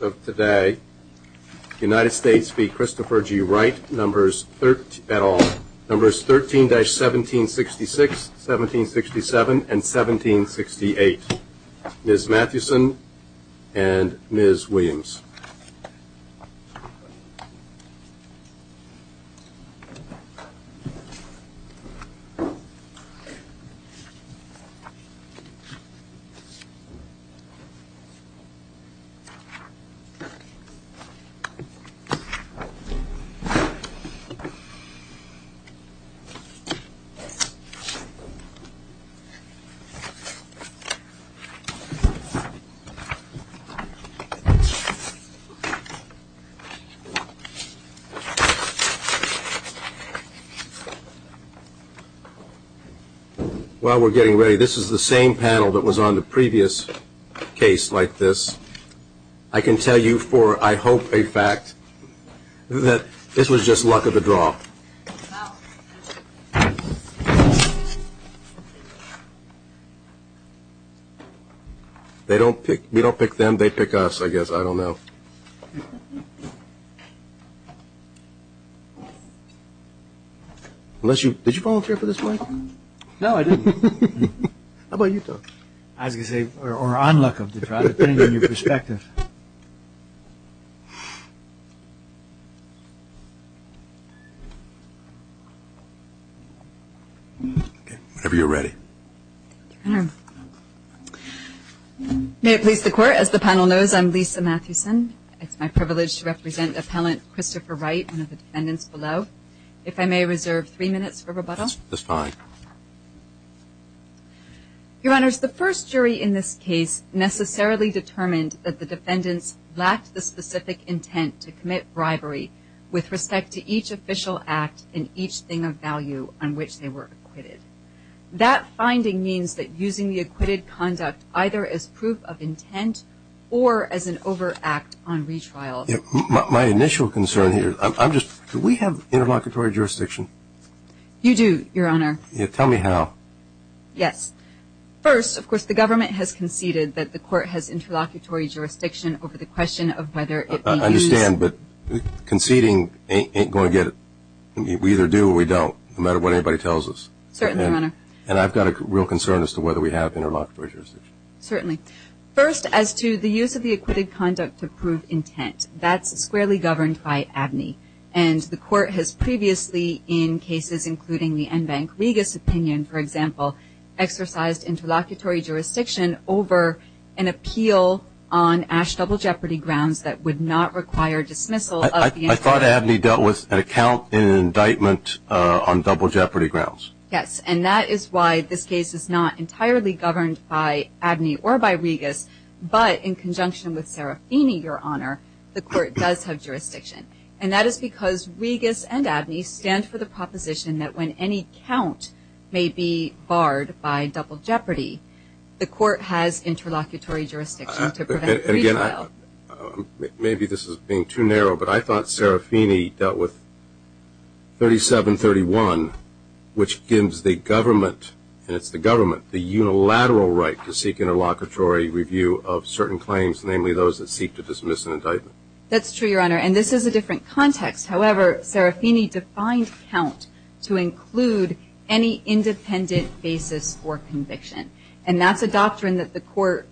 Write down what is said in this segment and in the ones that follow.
of today, United States v. Christopher G. Wright, Numbers 13-1766, 1767, and 1768. Ms. Mathewson and Ms. Williams. While we're getting ready, this is the same panel that was on the previous case like this. I can tell you for, I hope, a fact that this was just luck of the draw. They don't pick, we don't pick them, they pick us, I guess, I don't know. Unless you, did you volunteer for this one? No, I didn't. How about you, Doug? As you say, or on luck of the draw, depending on your perspective. Whenever you're ready. Thank you, Your Honor. May it please the Court, as the panel knows, I'm Lisa Mathewson. It's my privilege to represent Appellant Christopher Wright, one of the defendants below. If I may reserve three minutes for rebuttal. That's fine. Your Honors, the first jury in this case necessarily determined that the defendants lacked the specific intent to commit bribery with respect to each official act and each thing of value on which they were acquitted. That finding means that using the acquitted conduct either as proof of intent or as an overact on retrial. My initial concern here, I'm just, do we have interlocutory jurisdiction? You do, Your Honor. Tell me how. Yes. First, of course, the government has conceded that the court has interlocutory jurisdiction over the question of whether it may use. I understand, but conceding ain't going to get it. We either do or we don't, no matter what anybody tells us. Certainly, Your Honor. And I've got a real concern as to whether we have interlocutory jurisdiction. Certainly. First, as to the use of the acquitted conduct to prove intent, that's squarely governed by ABNY. And the court has previously, in cases including the Enbank Regas opinion, for example, exercised interlocutory jurisdiction over an appeal on Ash Double Jeopardy grounds that would not require dismissal. I thought ABNY dealt with an account in an indictment on Double Jeopardy grounds. Yes, and that is why this case is not entirely governed by ABNY or by Regas, but in conjunction with Serafini, Your Honor, the court does have jurisdiction. And that is because Regas and ABNY stand for the proposition that when any count may be barred by Double Jeopardy, the court has interlocutory jurisdiction to prevent retrial. Maybe this is being too narrow, but I thought Serafini dealt with 3731, which gives the government, and it's the government, the unilateral right to seek interlocutory review of certain claims, namely those that seek to dismiss an indictment. That's true, Your Honor, and this is a different context. However, Serafini defined count to include any independent basis for conviction. And that's a doctrine that the court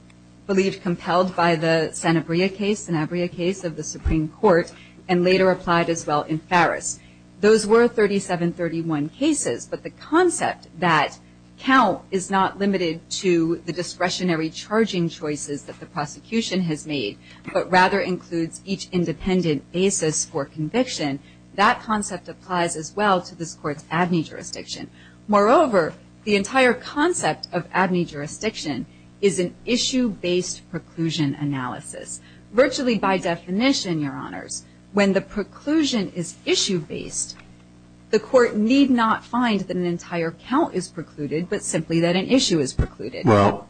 believed compelled by the Sanabria case, the Sanabria case of the Supreme Court, and later applied as well in Farris. Those were 3731 cases, but the concept that count is not limited to the discretionary charging choices that the prosecution has made, but rather includes each independent basis for conviction, that concept applies as well to this court's ABNY jurisdiction. Moreover, the entire concept of ABNY jurisdiction is an issue-based preclusion analysis. Virtually by definition, Your Honors, when the preclusion is issue-based, the court need not find that an entire count is precluded, but simply that an issue is precluded. Well,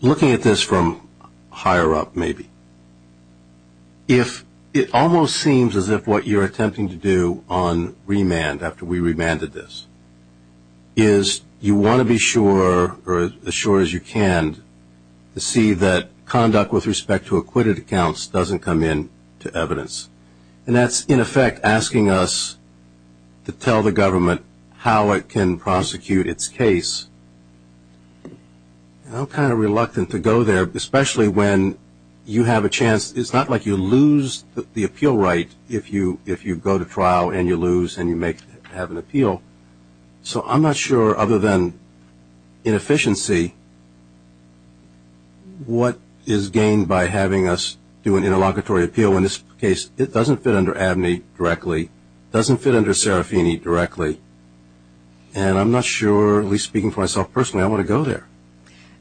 looking at this from higher up maybe, it almost seems as if what you're attempting to do on remand, after we remanded this, is you want to be sure, or as sure as you can, to see that conduct with respect to acquitted accounts doesn't come into evidence. And that's, in effect, asking us to tell the government how it can prosecute its case. I'm kind of reluctant to go there, especially when you have a chance. It's not like you lose the appeal right if you go to trial and you lose and you have an appeal. So I'm not sure, other than inefficiency, what is gained by having us do an interlocutory appeal when this case doesn't fit under ABNY directly, doesn't fit under Serafini directly. And I'm not sure, at least speaking for myself personally, I want to go there.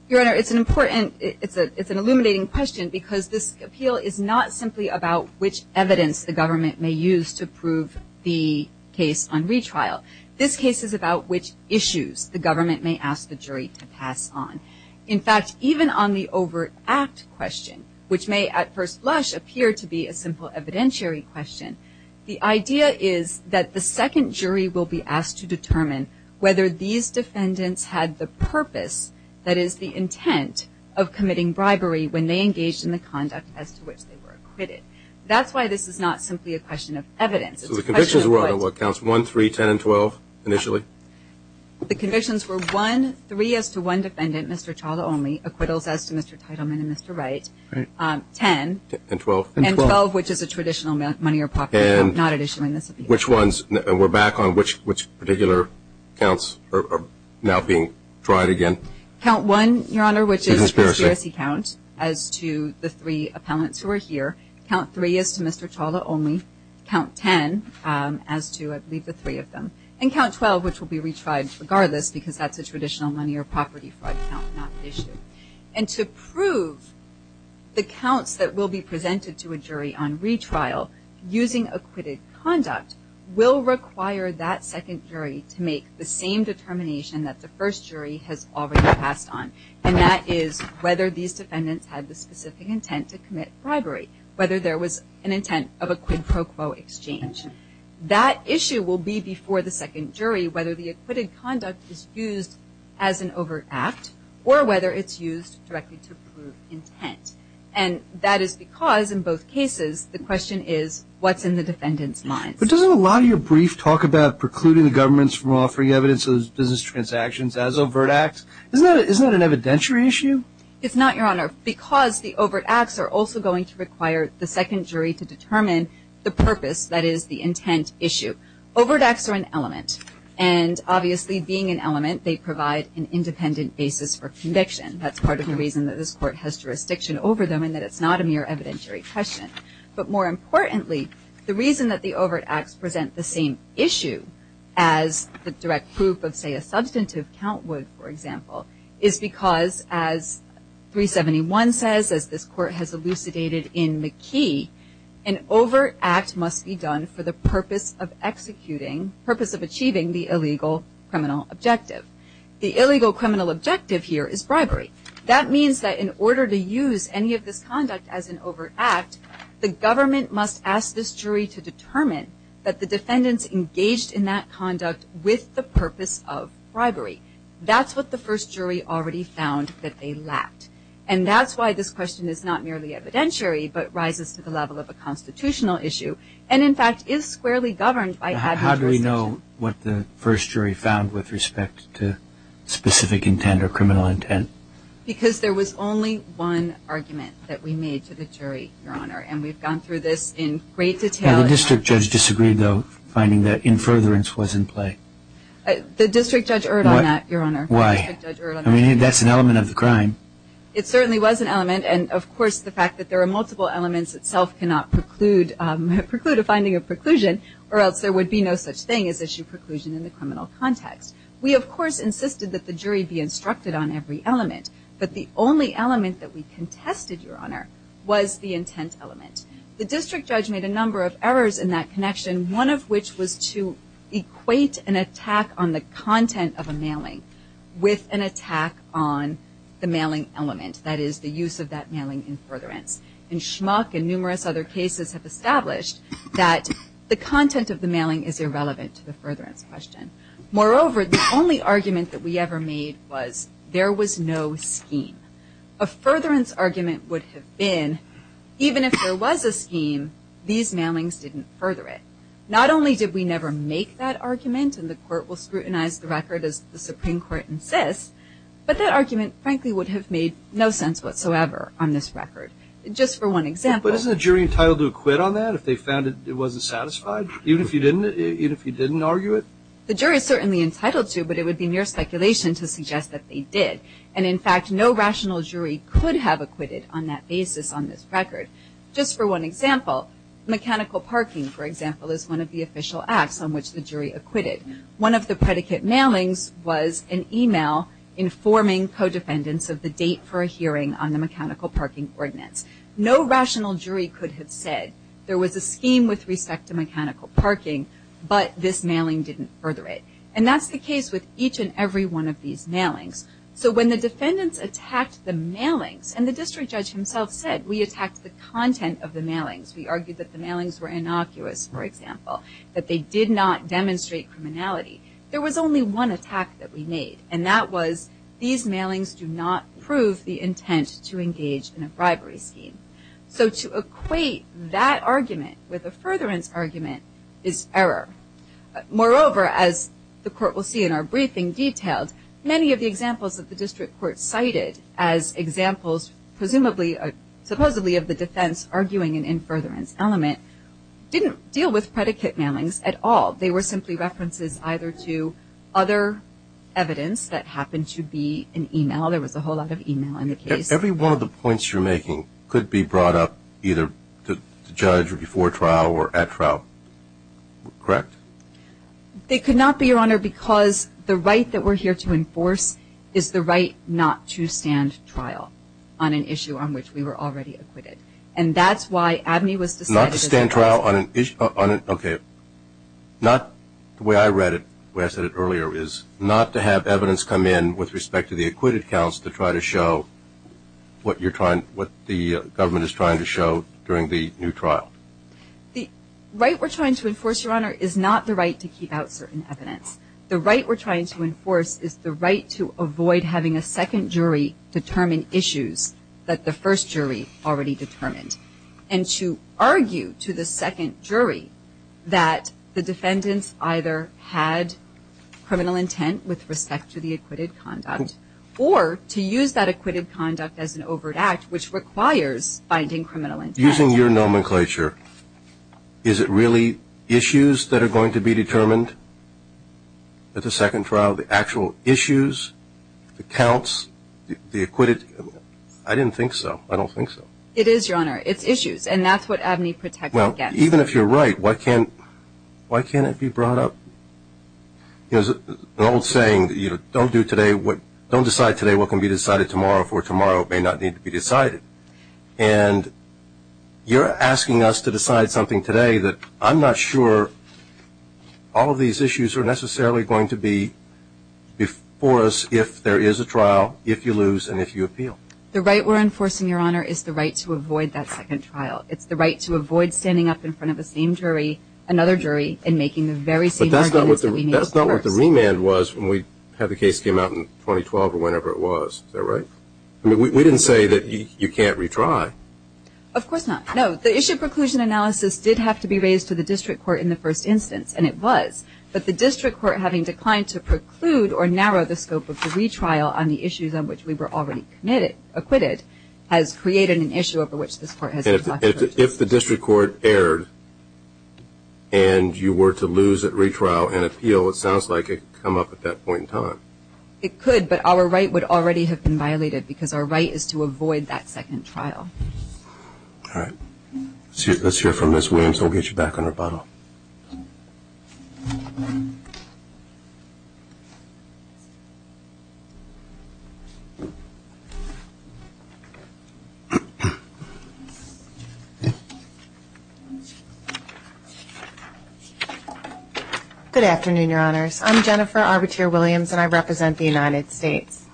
Your Honor, it's an important, it's an illuminating question, because this appeal is not simply about which evidence the government may use to prove the case on retrial. This case is about which issues the government may ask the jury to pass on. In fact, even on the overt act question, which may at first blush appear to be a simple evidentiary question, the idea is that the second jury will be asked to determine whether these defendants had the purpose, that is the intent, of committing bribery when they engaged in the conduct as to which they were acquitted. That's why this is not simply a question of evidence. So the convictions were on what, counts 1, 3, 10, and 12 initially? The convictions were 1, 3 as to one defendant, Mr. Chawla only, acquittals as to Mr. Teitelman and Mr. Wright, 10. And 12. And 12, which is a traditional money or property count, not an issue in this appeal. And which ones, we're back on which particular counts are now being tried again? Count 1, Your Honor, which is conspiracy count as to the three appellants who are here. Count 3 as to Mr. Chawla only. Count 10 as to, I believe, the three of them. And count 12, which will be retried regardless because that's a traditional money or property fraud count, not an issue. And to prove the counts that will be presented to a jury on retrial using acquitted conduct will require that second jury to make the same determination that the first jury has already passed on, and that is whether these defendants had the specific intent to commit bribery, whether there was an intent of a quid pro quo exchange. That issue will be before the second jury whether the acquitted conduct is used as an overt act or whether it's used directly to prove intent. And that is because in both cases the question is what's in the defendant's mind. But doesn't a lot of your brief talk about precluding the governments from offering evidence of business transactions as overt acts, isn't that an evidentiary issue? It's not, Your Honor, because the overt acts are also going to require the second jury to determine the purpose, that is the intent issue. Overt acts are an element. And obviously being an element they provide an independent basis for conviction. That's part of the reason that this court has jurisdiction over them and that it's not a mere evidentiary question. But more importantly, the reason that the overt acts present the same issue as the direct proof of, say, a substantive count would, for example, is because as 371 says, as this court has elucidated in McKee, an overt act must be done for the purpose of achieving the illegal criminal objective. The illegal criminal objective here is bribery. That means that in order to use any of this conduct as an overt act, the government must ask this jury to determine that the defendant's engaged in that conduct with the purpose of bribery. That's what the first jury already found that they lacked. And that's why this question is not merely evidentiary but rises to the level of a constitutional issue and, in fact, is squarely governed by ad hoc jurisdiction. Do you know what the first jury found with respect to specific intent or criminal intent? Because there was only one argument that we made to the jury, Your Honor, and we've gone through this in great detail. The district judge disagreed, though, finding that in furtherance was in play. The district judge erred on that, Your Honor. Why? The district judge erred on that. I mean, that's an element of the crime. It certainly was an element. And, of course, the fact that there are multiple elements itself cannot preclude a finding of preclusion or else there would be no such thing as issue preclusion in the criminal context. We, of course, insisted that the jury be instructed on every element. But the only element that we contested, Your Honor, was the intent element. The district judge made a number of errors in that connection, one of which was to equate an attack on the content of a mailing with an attack on the mailing element, that is, the use of that mailing in furtherance. And Schmuck and numerous other cases have established that the content of the mailing is irrelevant to the furtherance question. Moreover, the only argument that we ever made was there was no scheme. A furtherance argument would have been even if there was a scheme, these mailings didn't further it. Not only did we never make that argument, and the Court will scrutinize the record as the Supreme Court insists, but that argument, frankly, would have made no sense whatsoever on this record. Just for one example. But isn't the jury entitled to acquit on that if they found it wasn't satisfied? Even if you didn't argue it? The jury is certainly entitled to, but it would be mere speculation to suggest that they did. And, in fact, no rational jury could have acquitted on that basis on this record. Just for one example, mechanical parking, for example, is one of the official acts on which the jury acquitted. One of the predicate mailings was an email informing co-defendants of the date for a hearing on the mechanical parking ordinance. No rational jury could have said there was a scheme with respect to mechanical parking, but this mailing didn't further it. And that's the case with each and every one of these mailings. So when the defendants attacked the mailings, and the district judge himself said, we attacked the content of the mailings. We argued that the mailings were innocuous, for example. That they did not demonstrate criminality. There was only one attack that we made. And that was, these mailings do not prove the intent to engage in a bribery scheme. So to equate that argument with a furtherance argument is error. Moreover, as the court will see in our briefing detailed, many of the examples that the district court cited as examples presumably, supposedly of the defense arguing an in furtherance element, didn't deal with predicate mailings at all. They were simply references either to other evidence that happened to be an email. There was a whole lot of email in the case. Every one of the points you're making could be brought up either to judge or before trial or at trial, correct? They could not be, Your Honor, because the right that we're here to enforce is the right not to stand trial on an issue on which we were already acquitted. And that's why Abney was decided to stand trial. Not to stand trial on an issue, okay. Not, the way I read it, the way I said it earlier, is not to have evidence come in with respect to the acquitted counts to try to show what you're trying, what the government is trying to show during the new trial. The right we're trying to enforce, Your Honor, is not the right to keep out certain evidence. The right we're trying to enforce is the right to avoid having a second jury determine issues that the first jury already determined. And to argue to the second jury that the defendants either had criminal intent with respect to the acquitted conduct or to use that acquitted conduct as an overt act, which requires finding criminal intent. Using your nomenclature, is it really issues that are going to be determined at the second trial, the actual issues, the counts, the acquitted? I didn't think so. I don't think so. It is, Your Honor. It's issues. And that's what Abney protected against. Well, even if you're right, why can't it be brought up? There's an old saying, don't do today what, don't decide today what can be decided tomorrow for tomorrow may not need to be decided. And you're asking us to decide something today that I'm not sure all of these issues are necessarily going to be before us if there is a trial, if you lose, and if you appeal. The right we're enforcing, Your Honor, is the right to avoid that second trial. It's the right to avoid standing up in front of the same jury, another jury, and making the very same arguments that we made. But that's not what the remand was when we had the case came out in 2012 or whenever it was. Is that right? I mean, we didn't say that you can't retry. Of course not. No, the issue preclusion analysis did have to be raised to the district court in the first instance, and it was. But the district court having declined to preclude or narrow the scope of the retrial on the issues on which we were already acquitted has created an issue over which this court has to talk. If the district court erred and you were to lose at retrial and appeal, it sounds like it could come up at that point in time. It could, but our right would already have been violated because our right is to avoid that second trial. All right. Let's hear from Ms. Williams, and we'll get you back on rebuttal. Good afternoon, Your Honors. I'm Jennifer Arbuteer Williams, and I represent the United States.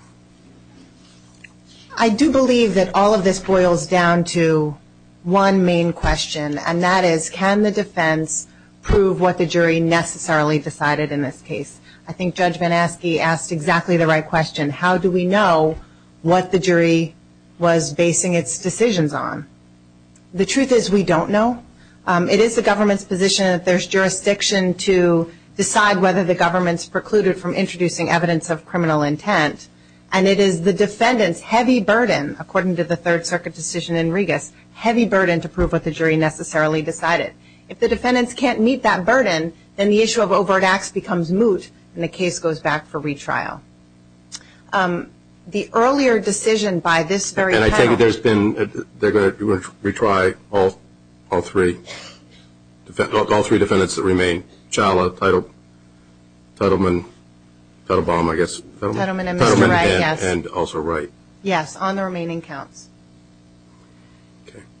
I do believe that all of this boils down to one main question, and that is, can the defense prove what the jury necessarily decided in this case? I think Judge Van Aske asked exactly the right question. How do we know what the jury was basing its decisions on? The truth is we don't know. It is the government's position that there's jurisdiction to decide whether the government's precluded from introducing evidence of criminal intent, and it is the defendant's heavy burden, according to the Third Circuit decision in Regas, heavy burden to prove what the jury necessarily decided. If the defendants can't meet that burden, then the issue of overt acts becomes moot, and the case goes back for retrial. The earlier decision by this very panel. And I think there's been, they're going to retry all three defendants that remain, Challah, Tittleman, Tittlebaum, I guess. Tittleman and Mr. Wright, yes. Tittleman and also Wright. Yes, on the remaining counts.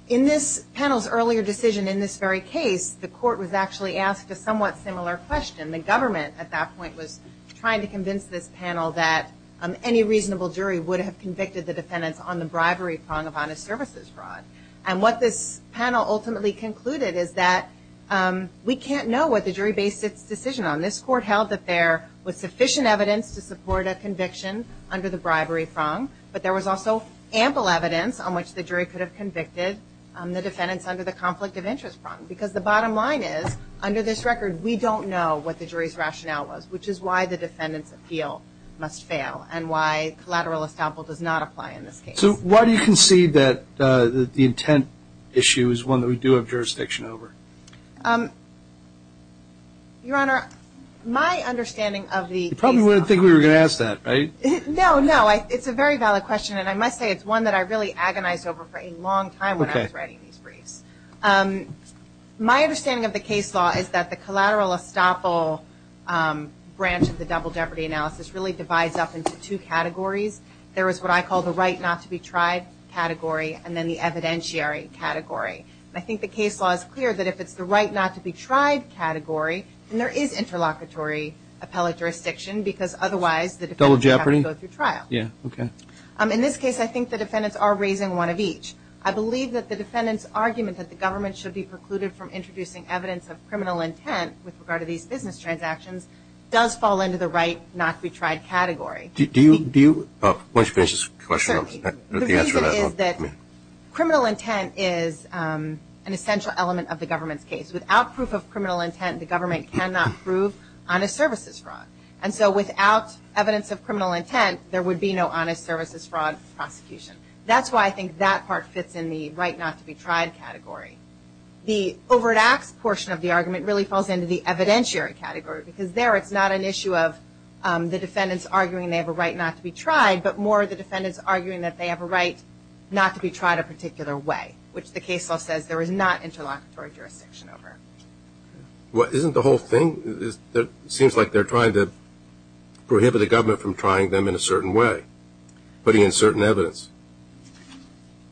In this panel's earlier decision in this very case, the court was actually asked a somewhat similar question. And the government at that point was trying to convince this panel that any reasonable jury would have convicted the defendants on the bribery prong of honest services fraud. And what this panel ultimately concluded is that we can't know what the jury based its decision on. This court held that there was sufficient evidence to support a conviction under the bribery prong, but there was also ample evidence on which the jury could have convicted the defendants under the conflict of interest prong. Because the bottom line is, under this record, we don't know what the jury's rationale was, which is why the defendant's appeal must fail and why collateral estoppel does not apply in this case. So why do you concede that the intent issue is one that we do have jurisdiction over? Your Honor, my understanding of the case. You probably wouldn't think we were going to ask that, right? No, no. It's a very valid question, and I must say it's one that I really agonized over for a long time when I was writing these briefs. My understanding of the case law is that the collateral estoppel branch of the double jeopardy analysis really divides up into two categories. There is what I call the right not to be tried category, and then the evidentiary category. And I think the case law is clear that if it's the right not to be tried category, then there is interlocutory appellate jurisdiction, because otherwise the defendants have to go through trial. Double jeopardy? Yeah, okay. In this case, I think the defendants are raising one of each. I believe that the defendants' argument that the government should be precluded from introducing evidence of criminal intent with regard to these business transactions does fall into the right not to be tried category. Do you? Why don't you finish this question? The reason is that criminal intent is an essential element of the government's case. Without proof of criminal intent, the government cannot prove honest services fraud. And so without evidence of criminal intent, there would be no honest services fraud prosecution. That's why I think that part fits in the right not to be tried category. The over-the-axe portion of the argument really falls into the evidentiary category, because there it's not an issue of the defendants arguing they have a right not to be tried, but more the defendants arguing that they have a right not to be tried a particular way, which the case law says there is not interlocutory jurisdiction over. Well, isn't the whole thing? It seems like they're trying to prohibit the government from trying them in a certain way, putting in certain evidence.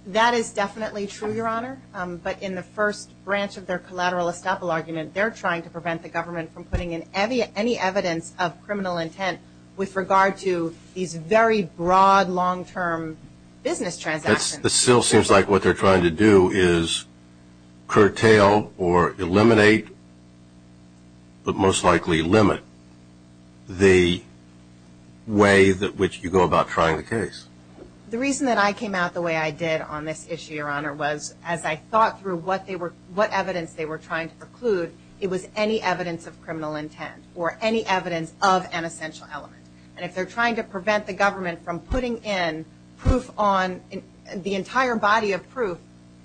That is definitely true, Your Honor. But in the first branch of their collateral estoppel argument, they're trying to prevent the government from putting in any evidence of criminal intent with regard to these very broad, long-term business transactions. It still seems like what they're trying to do is curtail or eliminate, but most likely limit, the way in which you go about trying the case. The reason that I came out the way I did on this issue, Your Honor, was as I thought through what evidence they were trying to preclude, it was any evidence of criminal intent or any evidence of an essential element. And if they're trying to prevent the government from putting in the entire body of proof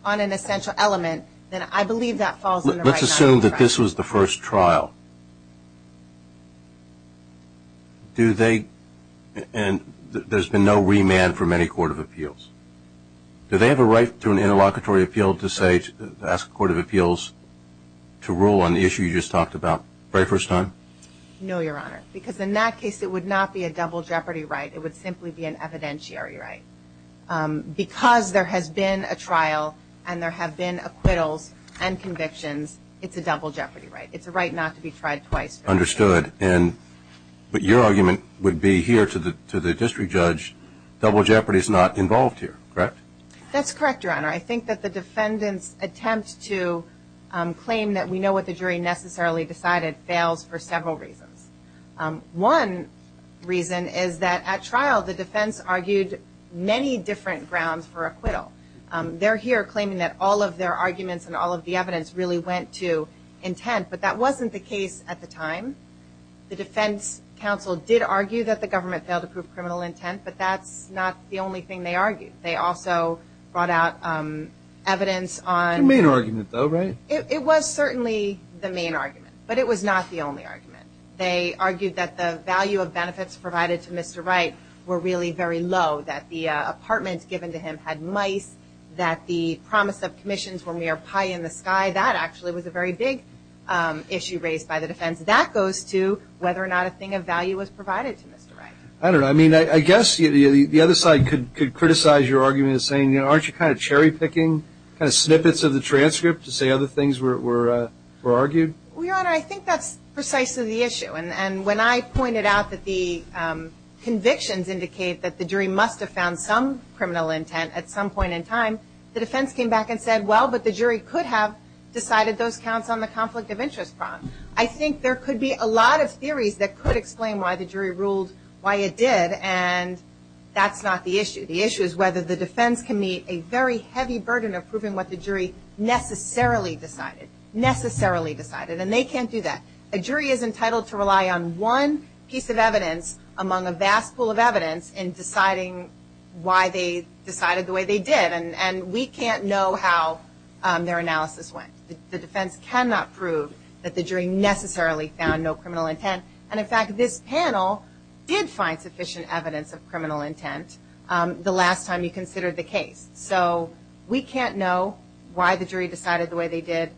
on an essential element, then I believe that falls in the right not to be tried. Let's assume that this was the first trial. Do they, and there's been no remand from any court of appeals. Do they have a right to an interlocutory appeal to say, to ask a court of appeals to rule on the issue you just talked about the very first time? No, Your Honor, because in that case, it would not be a double jeopardy right. It would simply be an evidentiary right. Because there has been a trial and there have been acquittals and convictions, it's a double jeopardy right. It's a right not to be tried. Understood. But your argument would be here to the district judge, double jeopardy is not involved here, correct? That's correct, Your Honor. I think that the defendant's attempt to claim that we know what the jury necessarily decided fails for several reasons. One reason is that at trial, the defense argued many different grounds for acquittal. They're here claiming that all of their arguments and all of the evidence really went to intent, but that wasn't the case at the time. The defense counsel did argue that the government failed to prove criminal intent, but that's not the only thing they argued. They also brought out evidence on – The main argument, though, right? It was certainly the main argument, but it was not the only argument. They argued that the value of benefits provided to Mr. Wright were really very low, that the apartments given to him had mice, that the promise of commissions were mere pie in the sky. That actually was a very big issue raised by the defense. That goes to whether or not a thing of value was provided to Mr. Wright. I don't know. I mean, I guess the other side could criticize your argument as saying, aren't you kind of cherry-picking snippets of the transcript to say other things were argued? Well, Your Honor, I think that's precisely the issue. And when I pointed out that the convictions indicate that the jury must have found some criminal intent at some point in time, the defense came back and said, well, but the jury could have decided those counts on the conflict of interest prompt. I think there could be a lot of theories that could explain why the jury ruled why it did, and that's not the issue. The issue is whether the defense can meet a very heavy burden of proving what the jury necessarily decided, necessarily decided, and they can't do that. A jury is entitled to rely on one piece of evidence among a vast pool of evidence in deciding why they decided the way they did. And we can't know how their analysis went. The defense cannot prove that the jury necessarily found no criminal intent. And, in fact, this panel did find sufficient evidence of criminal intent the last time you considered the case. So we can't know why the jury decided the way they did.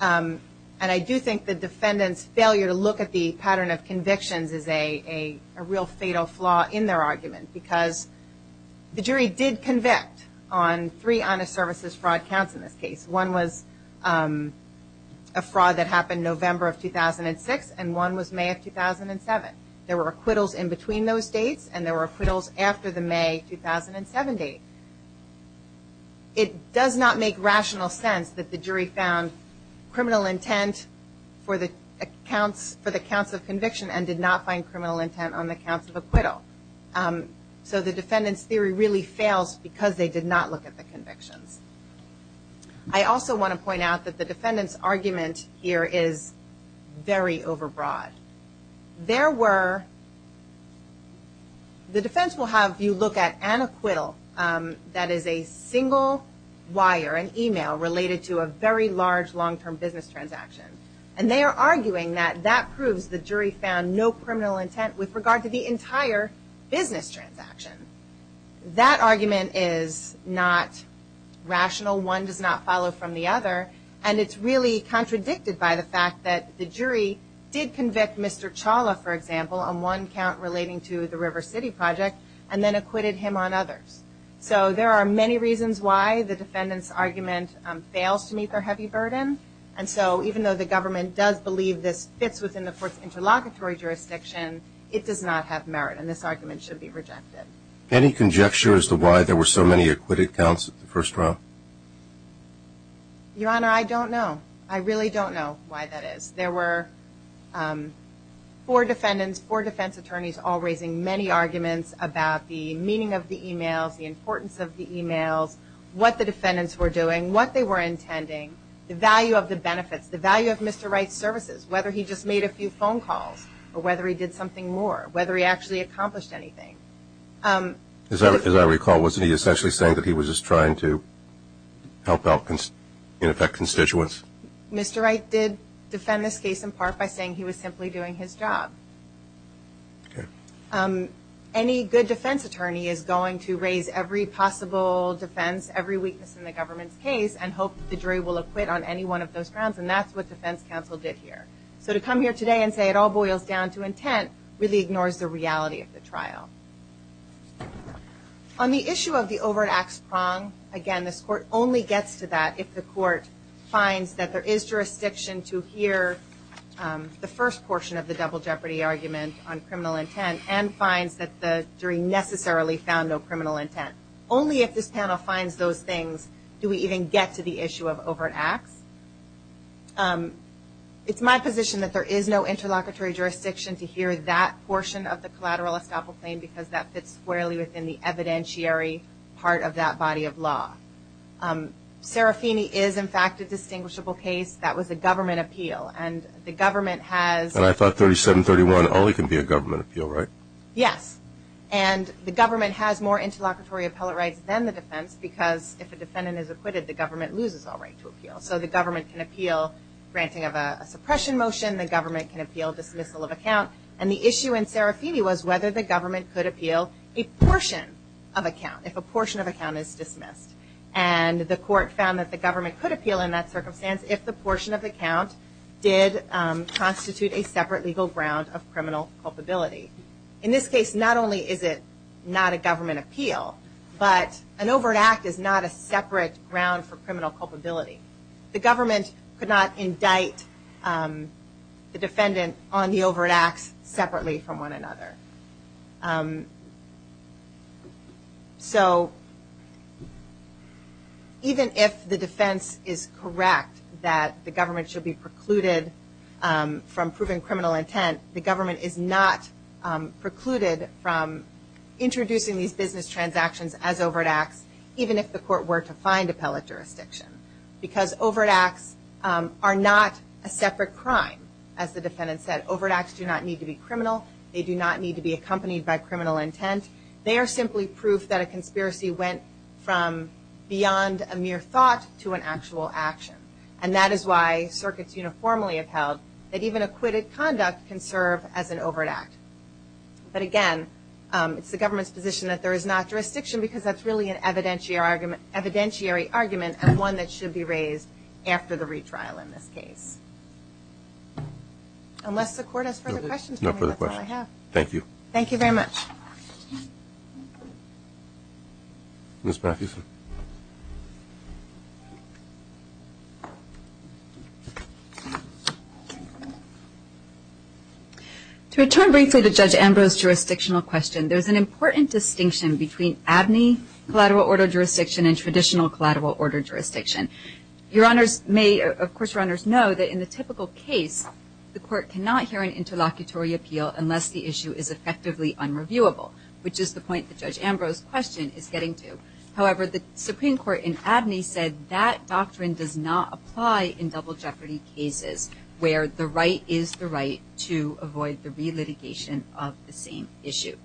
And I do think the defendant's failure to look at the pattern of convictions is a real fatal flaw in their argument because the jury did convict on three honest services fraud counts in this case. One was a fraud that happened November of 2006, and one was May of 2007. There were acquittals in between those dates, and there were acquittals after the May 2007 date. It does not make rational sense that the jury found criminal intent for the counts of conviction and did not find criminal intent on the counts of acquittal. So the defendant's theory really fails because they did not look at the convictions. I also want to point out that the defendant's argument here is very overbroad. There were, the defense will have you look at an acquittal that is a single wire, an email, related to a very large long-term business transaction. And they are arguing that that proves the jury found no criminal intent with regard to the entire business transaction. That argument is not rational. One does not follow from the other. And it's really contradicted by the fact that the jury did convict Mr. Chawla, for example, on one count relating to the River City project, and then acquitted him on others. So there are many reasons why the defendant's argument fails to meet their heavy burden. And so even though the government does believe this fits within the court's interlocutory jurisdiction, it does not have merit, and this argument should be rejected. Any conjecture as to why there were so many acquitted counts at the first trial? Your Honor, I don't know. I really don't know why that is. There were four defendants, four defense attorneys, all raising many arguments about the meaning of the emails, the importance of the emails, what the defendants were doing, what they were intending, the value of the benefits, the value of Mr. Wright's services, whether he just made a few phone calls, or whether he did something more, whether he actually accomplished anything. As I recall, wasn't he essentially saying that he was just trying to help out, in effect, constituents? Mr. Wright did defend this case in part by saying he was simply doing his job. Okay. Any good defense attorney is going to raise every possible defense, every weakness in the government's case, and hope that the jury will acquit on any one of those grounds, and that's what defense counsel did here. So to come here today and say it all boils down to intent really ignores the reality of the trial. On the issue of the overt acts prong, again, this court only gets to that if the court finds that there is jurisdiction to hear the first portion of the double jeopardy argument on criminal intent and finds that the jury necessarily found no criminal intent. Only if this panel finds those things do we even get to the issue of overt acts. It's my position that there is no interlocutory jurisdiction to hear that portion of the collateral estoppel claim because that fits squarely within the evidentiary part of that body of law. Serafini is, in fact, a distinguishable case. That was a government appeal, and the government has And I thought 3731 only can be a government appeal, right? Yes. And the government has more interlocutory appellate rights than the defense So the government can appeal granting of a suppression motion. The government can appeal dismissal of account. And the issue in Serafini was whether the government could appeal a portion of account if a portion of account is dismissed. And the court found that the government could appeal in that circumstance if the portion of account did constitute a separate legal ground of criminal culpability. In this case, not only is it not a government appeal, but an overt act is not a separate ground for criminal culpability. The government could not indict the defendant on the overt acts separately from one another. So even if the defense is correct that the government should be precluded from proving criminal intent, the government is not precluded from introducing these business transactions as overt acts even if the court were to find appellate jurisdiction. Because overt acts are not a separate crime. As the defendant said, overt acts do not need to be criminal. They do not need to be accompanied by criminal intent. They are simply proof that a conspiracy went from beyond a mere thought to an actual action. And that is why circuits uniformly upheld that even acquitted conduct can serve as an overt act. But again, it's the government's position that there is not jurisdiction because that's really an evidentiary argument and one that should be raised after the retrial in this case. Unless the court has further questions. No further questions. Thank you. Thank you very much. Ms. Mathewson. To return briefly to Judge Ambrose's jurisdictional question, there's an important distinction between ABNY collateral order jurisdiction and traditional collateral order jurisdiction. Your honors may, of course your honors know, that in the typical case, the court cannot hear an interlocutory appeal unless the issue is effectively unreviewable, which is the point that Judge Ambrose's question is getting to. However, the Supreme Court in ABNY said that doctrine does not apply in double jeopardy cases where the right is the right to avoid the relitigation of the same issue.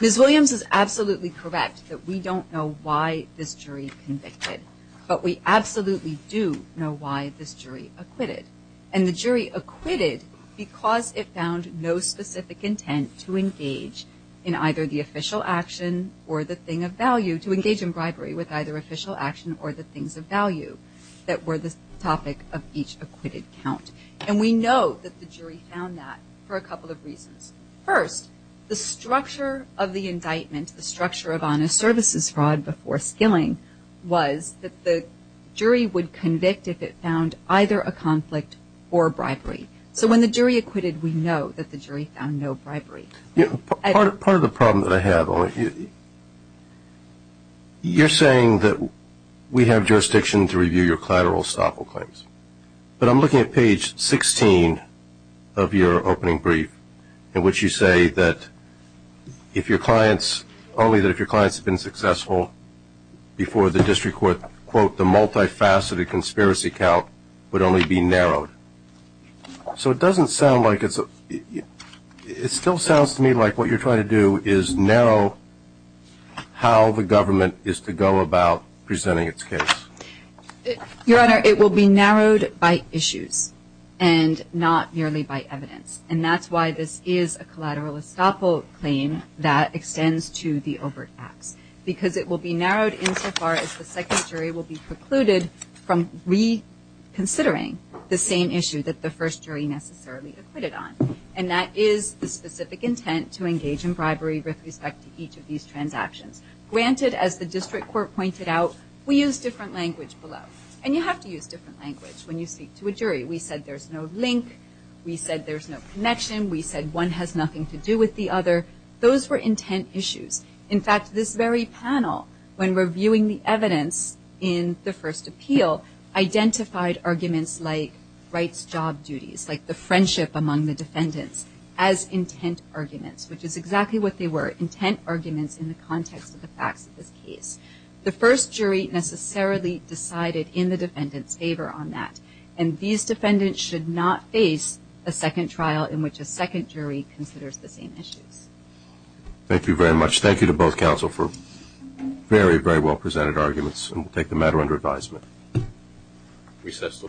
Ms. Williams is absolutely correct that we don't know why this jury convicted, but we absolutely do know why this jury acquitted. And the jury acquitted because it found no specific intent to engage in either the official action or the thing of value, to engage in bribery with either official action or the things of value that were the topic of each acquitted count. And we know that the jury found that for a couple of reasons. First, the structure of the indictment, the structure of honest services fraud before skilling, was that the jury would convict if it found either a conflict or bribery. So when the jury acquitted, we know that the jury found no bribery. Part of the problem that I have, you're saying that we have jurisdiction to review your collateral estoppel claims, but I'm looking at page 16 of your opening brief in which you say that if your clients, only that if your clients have been successful before the district court, quote, the multifaceted conspiracy count would only be narrowed. So it doesn't sound like it's a, it still sounds to me like what you're trying to do is narrow how the government is to go about presenting its case. Your Honor, it will be narrowed by issues and not merely by evidence. And that's why this is a collateral estoppel claim that extends to the overt acts, because it will be narrowed insofar as the second jury will be precluded from reconsidering the same issue that the first jury necessarily acquitted on. And that is the specific intent to engage in bribery with respect to each of these transactions. Granted, as the district court pointed out, we use different language below. And you have to use different language when you speak to a jury. We said there's no link. We said there's no connection. We said one has nothing to do with the other. Those were intent issues. In fact, this very panel, when reviewing the evidence in the first appeal, identified arguments like rights job duties, like the friendship among the defendants, as intent arguments, which is exactly what they were, intent arguments in the context of the facts of this case. The first jury necessarily decided in the defendant's favor on that. And these defendants should not face a second trial in which a second jury considers the same issues. Thank you very much. Thank you to both counsel for very, very well presented arguments. And we'll take the matter under advisement. Recess until tomorrow morning.